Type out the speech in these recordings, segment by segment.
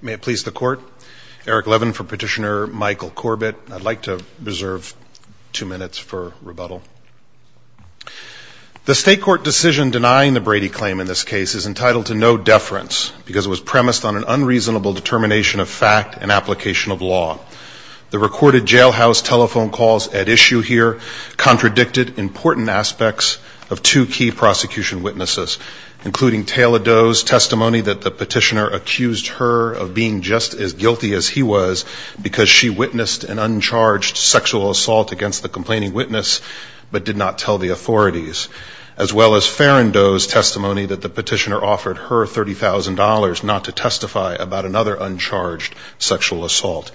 May it please the court. Eric Levin for petitioner Michael Corbett. I'd like to reserve two minutes for rebuttal. The state court decision denying the Brady claim in this case is entitled to no deference because it was premised on an unreasonable determination of fact and application of law. The recorded jail house telephone calls at issue here contradicted important aspects of two key prosecution witnesses including Taylor Doe's testimony that the petitioner accused her of being just as guilty as he was because she witnessed an uncharged sexual assault against the complaining witness but did not tell the authorities. As well as Farren Doe's testimony that the petitioner offered her $30,000 not to testify about another uncharged sexual assault.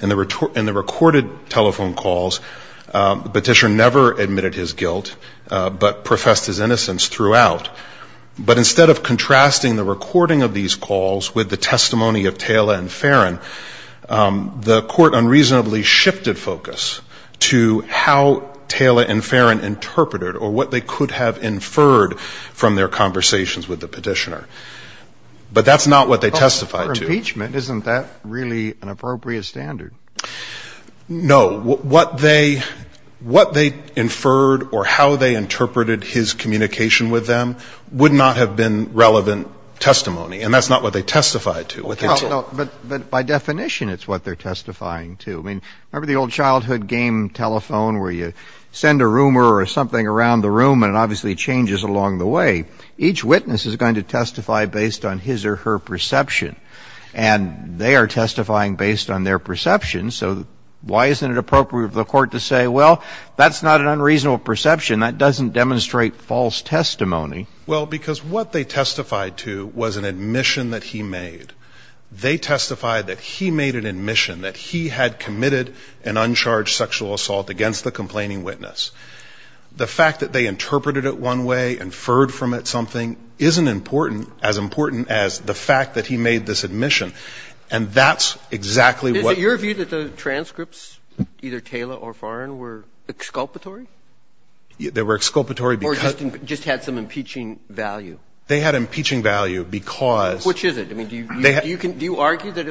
In the recorded telephone calls the petitioner never admitted his guilt but professed his innocence throughout. But instead of contrasting the recording of the testimony of Taylor and Farren, the court unreasonably shifted focus to how Taylor and Farren interpreted or what they could have inferred from their conversations with the petitioner. But that's not what they testified to. For impeachment, isn't that really an appropriate standard? No. What they inferred or how they interpreted his communication with them would not have been relevant testimony and that's not what they testified to. But by definition it's what they're testifying to. I mean, remember the old childhood game telephone where you send a rumor or something around the room and it obviously changes along the way. Each witness is going to testify based on his or her perception and they are testifying based on their perception. So why isn't it appropriate for the court to say, well, that's not an unreasonable perception. That doesn't demonstrate false testimony. Well, because what they testified to was an admission that he made. They testified that he made an admission that he had committed an uncharged sexual assault against the complaining witness. The fact that they interpreted it one way, inferred from it something, isn't important, as important as the fact that he made this admission. And that's exactly what Is it your view that the transcripts, either Taylor or Farren, were exculpatory? They were exculpatory because They just had some impeaching value. They had impeaching value because Which is it? I mean, do you argue that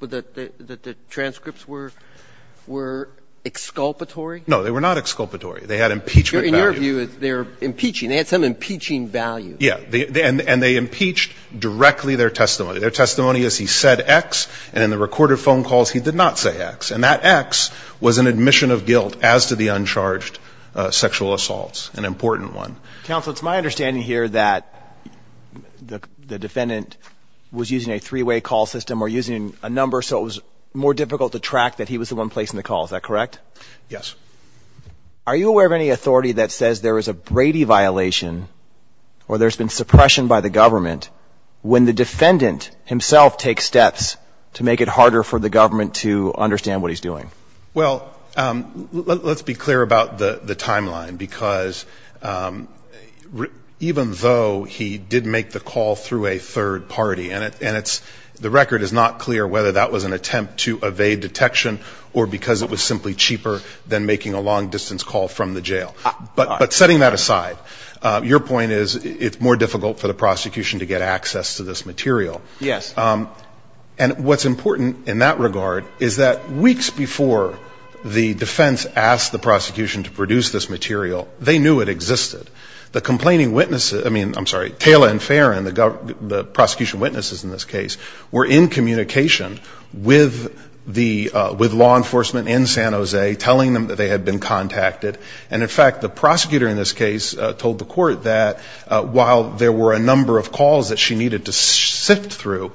the transcripts were exculpatory? No, they were not exculpatory. They had impeachment value. In your view, they were impeaching. They had some impeaching value. Yes. And they impeached directly their testimony. Their testimony is he said X and in the recorded phone calls he did not say X. And that X was an admission of guilt as to the uncharged sexual assaults, an important one. Counsel, it's my understanding here that the defendant was using a three-way call system or using a number so it was more difficult to track that he was the one placing the call. Is that correct? Yes. Are you aware of any authority that says there is a Brady violation or there's been suppression by the government when the defendant himself takes steps to make it harder for the government to understand what he's doing? Well, let's be clear about the timeline because even though he did make the call through a third party and the record is not clear whether that was an attempt to evade detection or because it was simply cheaper than making a long-distance call from the jail. But setting that aside, your point is it's more difficult for the prosecution to get access to this material. Yes. And what's important in that regard is that weeks before the defense asked the prosecution to produce this material, they knew it existed. The complaining witnesses, I mean, I'm sorry, Taylor and Farron, the prosecution witnesses in this case, were in communication with the law enforcement in San Jose telling them that they had been contacted. And in fact, the prosecutor in this case told the court that while there were a number of calls that she needed to sift through,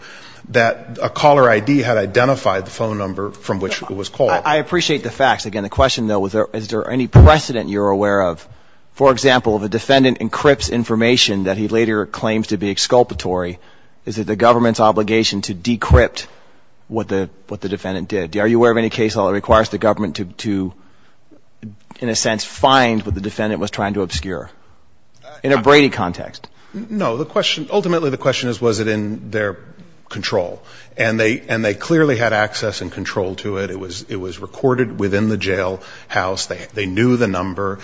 that a caller ID had identified the phone number from which it was called. I appreciate the facts. Again, the question, though, is there any precedent you're aware of? For example, if a defendant encrypts information that he later claims to be exculpatory, is it the government's obligation to decrypt what the defendant did? Are you aware of any case law that requires the government to, in a sense, find what the defendant was trying to obscure in a Brady context? No. Ultimately, the question is, was it in their control? And they clearly had access and control to it. It was recorded within the jailhouse. They knew the number.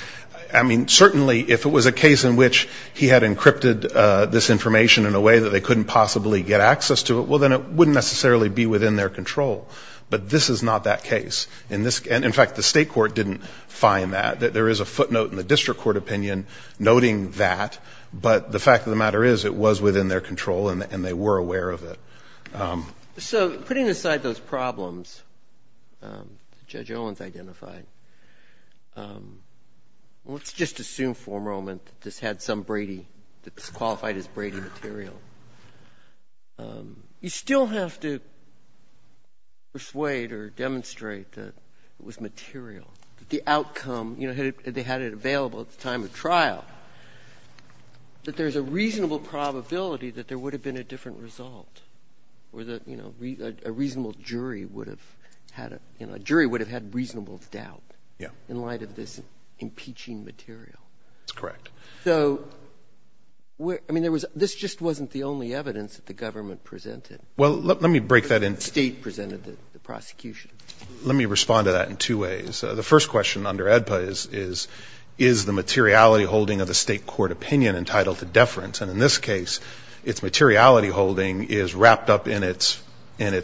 I mean, certainly if it was a case in which he had encrypted this information in a way that they couldn't possibly get access to it, well, then it wouldn't necessarily be within their control. But this is not that case. And in fact, the state court didn't find that. There is a footnote in the matter is it was within their control and they were aware of it. So putting aside those problems that Judge Owens identified, let's just assume for a moment that this had some Brady, that this qualified as Brady material. You still have to persuade or demonstrate that it was material, that the outcome of the trial, that there's a reasonable probability that there would have been a different result or that a reasonable jury would have had reasonable doubt in light of this impeaching material. That's correct. So, I mean, this just wasn't the only evidence that the government presented. Well, let me break that in. The state presented the prosecution. Let me respond to that in two ways. The first question under AEDPA is, is the materiality holding of the state court opinion entitled to deference? And in this case, its materiality holding is wrapped up in its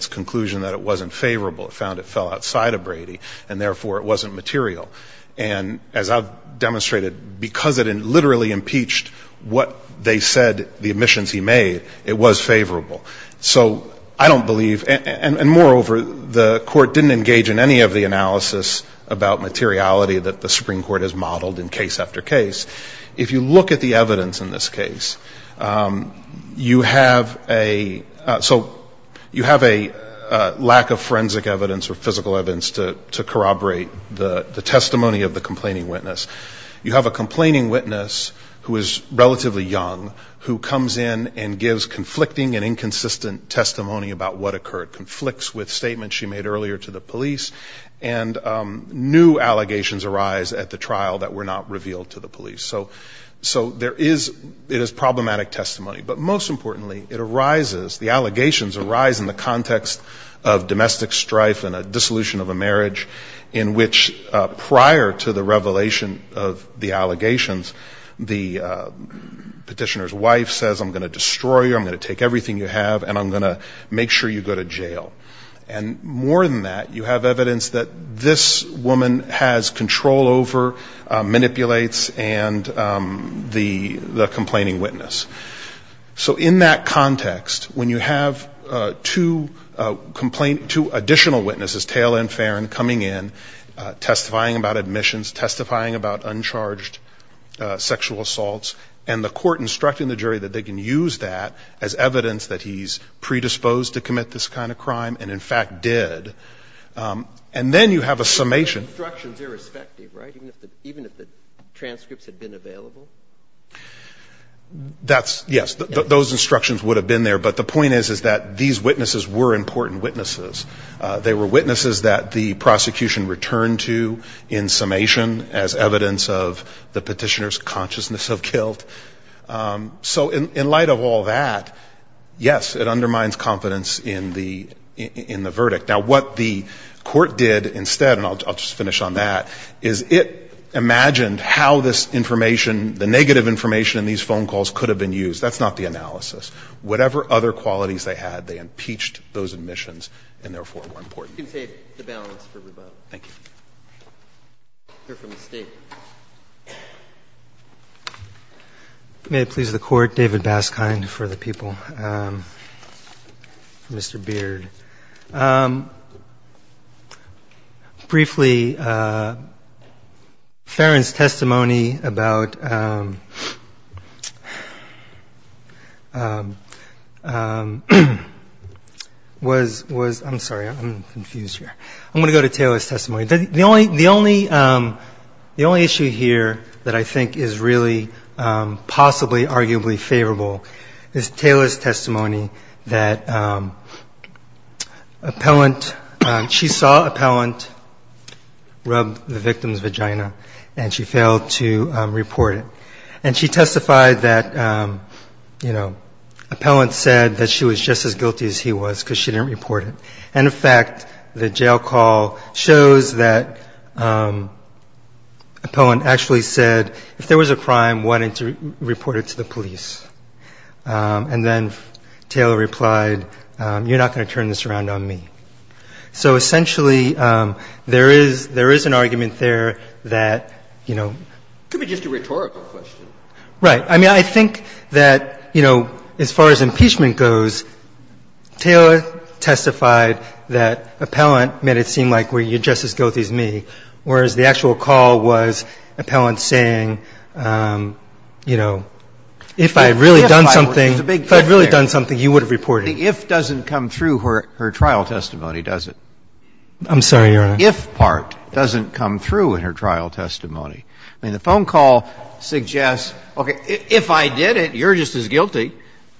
conclusion that it wasn't favorable. It found it fell outside of Brady and, therefore, it wasn't material. And as I've demonstrated, because it literally impeached what they said, the admissions he made, it was favorable. So I don't believe, and moreover, the court didn't engage in any of the analysis about materiality that the Supreme Court has modeled in case after case. If you look at the evidence in this case, you have a, so you have a lack of forensic evidence or physical evidence to corroborate the testimony of the complaining witness. You have a complaining witness who is relatively young, who comes in and gives conflicting and inconsistent testimony about what occurred. Conflicts with statements she made earlier to the police. And new allegations arise at the trial that were not revealed to the police. So there is, it is problematic testimony. But most importantly, it arises, the allegations arise in the context of domestic strife and a dissolution of a marriage in which prior to the revelation of the case, the plaintiff said, I'm going to take everything you have, and I'm going to make sure you go to jail. And more than that, you have evidence that this woman has control over, manipulates, and the complaining witness. So in that context, when you have two complaint, two additional witnesses, Taylor and Farron, coming in, testifying about admissions, testifying about the fact that the plaintiff has evidence that he's predisposed to commit this kind of crime and, in fact, did. And then you have a summation. Instructions irrespective, right? Even if the transcripts had been available? That's, yes, those instructions would have been there. But the point is, is that these witnesses were important witnesses. They were witnesses that the prosecution returned to in summation as evidence of the Petitioner's consciousness of guilt. So in light of all that, yes, it undermines confidence in the verdict. Now, what the court did instead, and I'll just finish on that, is it imagined how this information, the negative information in these phone calls could have been used. That's not the analysis. Whatever other qualities they had, they impeached those admissions and, therefore, were important. You can take the balance for rebuttal. Thank you. You're from the State. May it please the Court, David Baskind for the people, Mr. Beard. Briefly, Farron's testimony about, was, I'm sorry, I'm confused here. I'm going to go to Taylor's testimony. The only issue here that I think is really possibly arguably favorable is Taylor's testimony. Appellant, she saw Appellant rub the victim's vagina, and she failed to report it. And she testified that, you know, Appellant said that she was just as guilty as he was because she didn't report it. And, in fact, the jail call shows that Appellant actually said, if there was a crime, why didn't you report it to the police? And then Taylor replied, you're not going to turn this around on me. So, essentially, there is an argument there that, you know. It could be just a rhetorical question. Right. I mean, I think that, you know, as far as impeachment goes, Taylor testified that Appellant made it seem like, well, you're just as guilty as me, whereas the trial testimony, if I had really done something, you would have reported it. But the if doesn't come through her trial testimony, does it? I'm sorry, Your Honor. The if part doesn't come through in her trial testimony. I mean, the phone call suggests, okay, if I did it, you're just as guilty,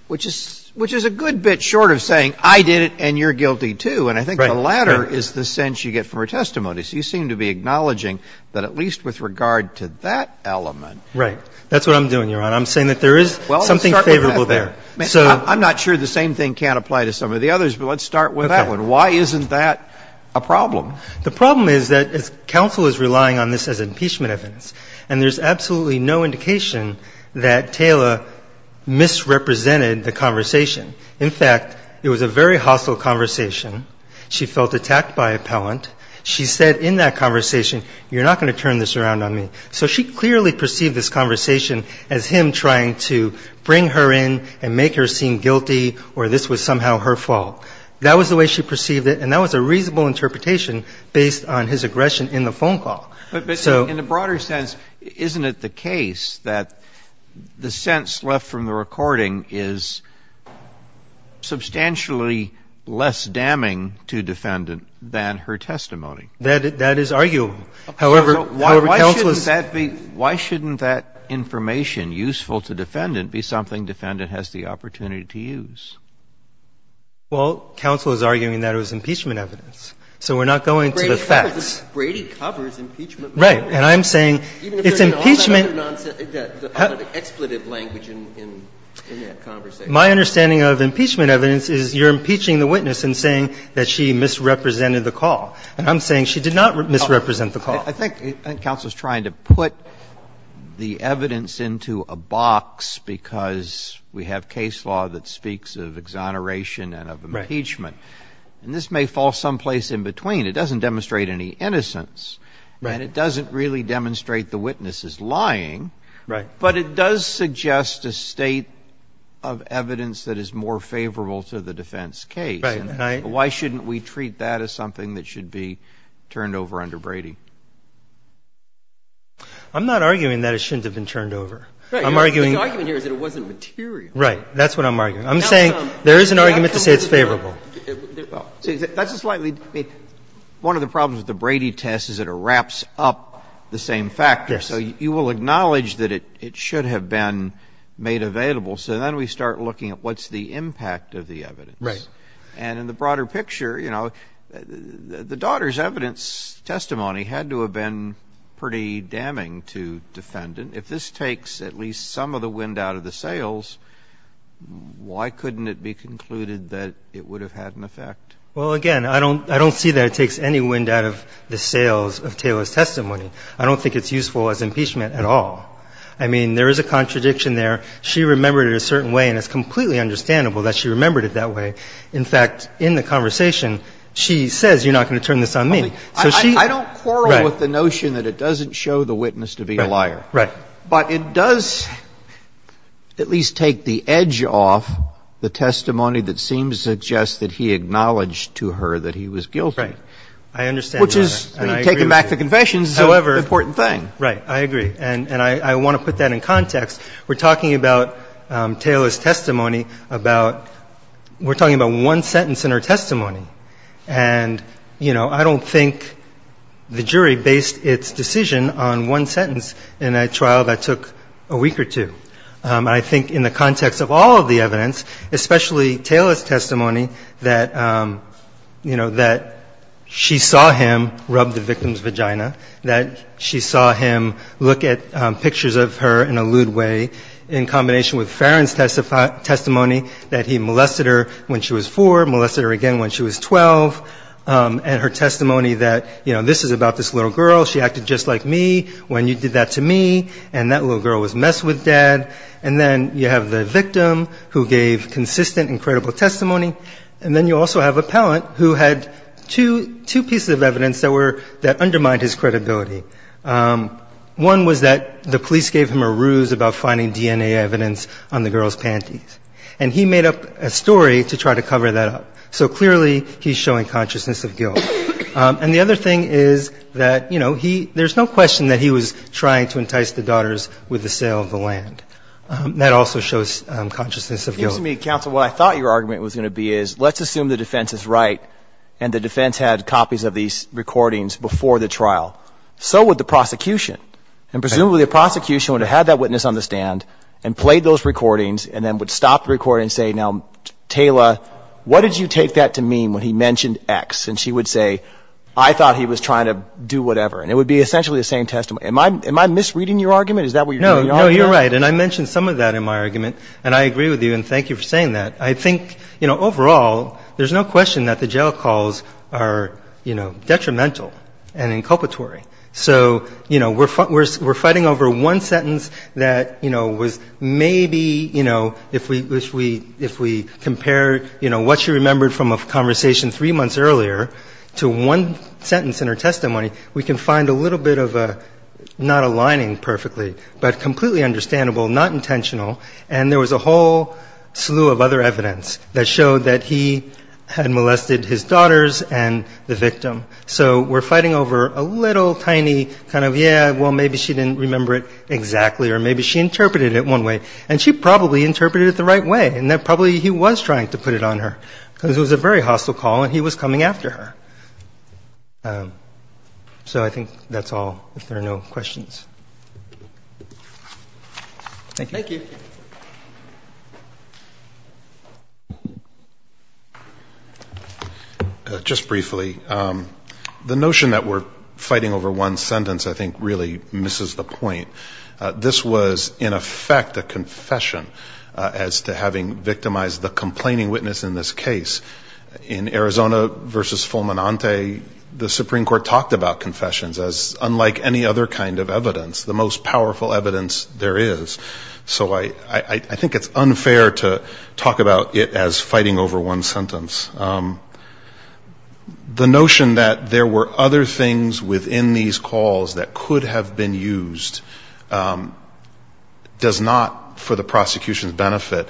which is a good bit short of saying I did it and you're guilty, too. And I think the latter is the sense you get from her testimony. So you seem to be acknowledging that at least with regard to that element. Right. That's what I'm doing, Your Honor. I'm saying that there is something favorable there. Well, let's start with her back there. I'm not sure the same thing can't apply to some of the others, but let's start with that one. Okay. Why isn't that a problem? The problem is that counsel is relying on this as impeachment evidence, and there's absolutely no indication that Taylor misrepresented the conversation. In fact, it was a very hostile conversation. She felt attacked by Appellant. She said in that conversation, you're not going to turn this around on me. So she clearly perceived this conversation as him trying to bring her in and make her seem guilty or this was somehow her fault. That was the way she perceived it, and that was a reasonable interpretation based on his aggression in the phone call. But in a broader sense, isn't it the case that the sense left from the recording is substantially less damning to defendant than her testimony? That is arguable. However, counsel is. Why shouldn't that be? Why shouldn't that information useful to defendant be something defendant has the opportunity to use? Well, counsel is arguing that it was impeachment evidence. So we're not going to the facts. Brady covers impeachment. Right. And I'm saying it's impeachment. Even if there's all that other nonsense, all that expletive language in that conversation. My understanding of impeachment evidence is you're impeaching the witness and saying that she misrepresented the call. And I'm saying she did not misrepresent the call. I think counsel is trying to put the evidence into a box because we have case law that speaks of exoneration and of impeachment. And this may fall someplace in between. It doesn't demonstrate any innocence. Right. And it doesn't really demonstrate the witness is lying. Right. But it does suggest a state of evidence that is more favorable to the defense case. Right. And why shouldn't we treat that as something that should be turned over under Brady? I'm not arguing that it shouldn't have been turned over. I'm arguing. The argument here is that it wasn't material. Right. That's what I'm arguing. I'm saying there is an argument to say it's favorable. That's a slightly – one of the problems with the Brady test is it wraps up the same factor. Yes. So you will acknowledge that it should have been made available. So then we start looking at what's the impact of the evidence. Right. And in the broader picture, you know, the daughter's evidence testimony had to have been pretty damning to defendant. If this takes at least some of the wind out of the sails, why couldn't it be concluded that it would have had an effect? Well, again, I don't see that it takes any wind out of the sails of Taylor's testimony. I don't think it's useful as impeachment at all. I mean, there is a contradiction there. I mean, I think that, you know, to the extent that the witness is a liar, she remembered it a certain way, and it's completely understandable that she remembered it that way. In fact, in the conversation, she says you're not going to turn this on me. So she – I don't quarrel with the notion that it doesn't show the witness to be a liar. Right. But it does at least take the edge off the testimony that seems to suggest that he acknowledged to her that he was guilty. Right. I understand, Your Honor. Which is, taking back the confession is an important thing. Right. I agree. And I want to put that in context. We're talking about Taylor's testimony about – we're talking about one sentence in her testimony. And, you know, I don't think the jury based its decision on one sentence in a trial that took a week or two. I think in the context of all of the evidence, especially Taylor's testimony that, you know, that she saw him rub the victim's vagina, that she saw him look at pictures of her in a lewd way, in combination with Farron's testimony that he molested her when she was four, molested her again when she was 12, and her testimony that, you know, this is about this little girl. She acted just like me when you did that to me. And that little girl was messed with, Dad. And then you have the victim who gave consistent and credible testimony. And then you also have appellant who had two pieces of evidence that undermined his credibility. One was that the police gave him a ruse about finding DNA evidence on the girl's panties. And he made up a story to try to cover that up. So, clearly, he's showing consciousness of guilt. And the other thing is that, you know, there's no question that he was trying to entice the daughters with the sale of the land. That also shows consciousness of guilt. Excuse me, counsel. What I thought your argument was going to be is let's assume the defense is right and the defense had copies of these recordings before the trial. So would the prosecution. And presumably the prosecution would have had that witness on the stand and played those recordings and then would stop the recording and say, now, Taylor, what did you take that to mean when he mentioned X? And she would say, I thought he was trying to do whatever. And it would be essentially the same testimony. Am I misreading your argument? Is that what you're doing? No, you're right. And I mentioned some of that in my argument. And I agree with you. And thank you for saying that. I think, you know, overall, there's no question that the jail calls are, you know, detrimental and inculpatory. So, you know, we're fighting over one sentence that, you know, was maybe, you know, if we compare, you know, what she remembered from a conversation three months earlier to one sentence in her testimony, we can find a little bit of a not aligning perfectly, but completely understandable, not intentional. And there was a whole slew of other evidence that showed that he had molested his daughters and the victim. So we're fighting over a little tiny kind of, yeah, well, maybe she didn't remember it exactly or maybe she interpreted it one way. And she probably interpreted it the right way and that probably he was trying to put it on her because it was a very hostile call and he was coming after her. So I think that's all, if there are no questions. Thank you. Thank you. Just briefly, the notion that we're fighting over one sentence I think really misses the point. This was, in effect, a confession as to having victimized the complaining witness in this case. In Arizona versus Fulminante, the Supreme Court talked about confessions as unlike any other kind of evidence, the most powerful evidence there is. So I think it's unfair to talk about it as fighting over one sentence. The notion that there were other things within these calls that could have been used does not, for the prosecution's benefit,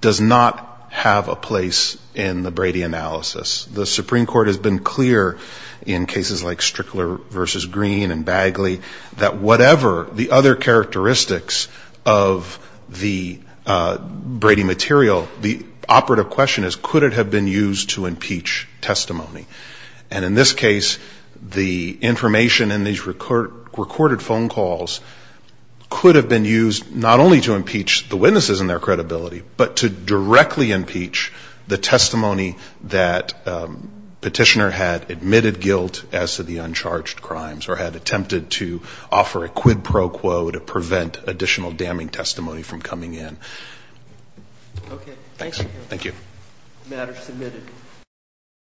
does not have a place in the Brady analysis. The Supreme Court has been clear in cases like Strickler versus Green and Bagley that whatever the other characteristics of the Brady material, the operative question is could it have been used to impeach testimony. And in this case, the information in these recorded phone calls could have been used not only to impeach the witnesses and their credibility, but to directly impeach the testimony that petitioner had admitted guilt as to the uncharged crimes or had attempted to offer a quid pro quo to prevent additional damning testimony from coming in. Okay. Thanks. Thank you. The matter is submitted.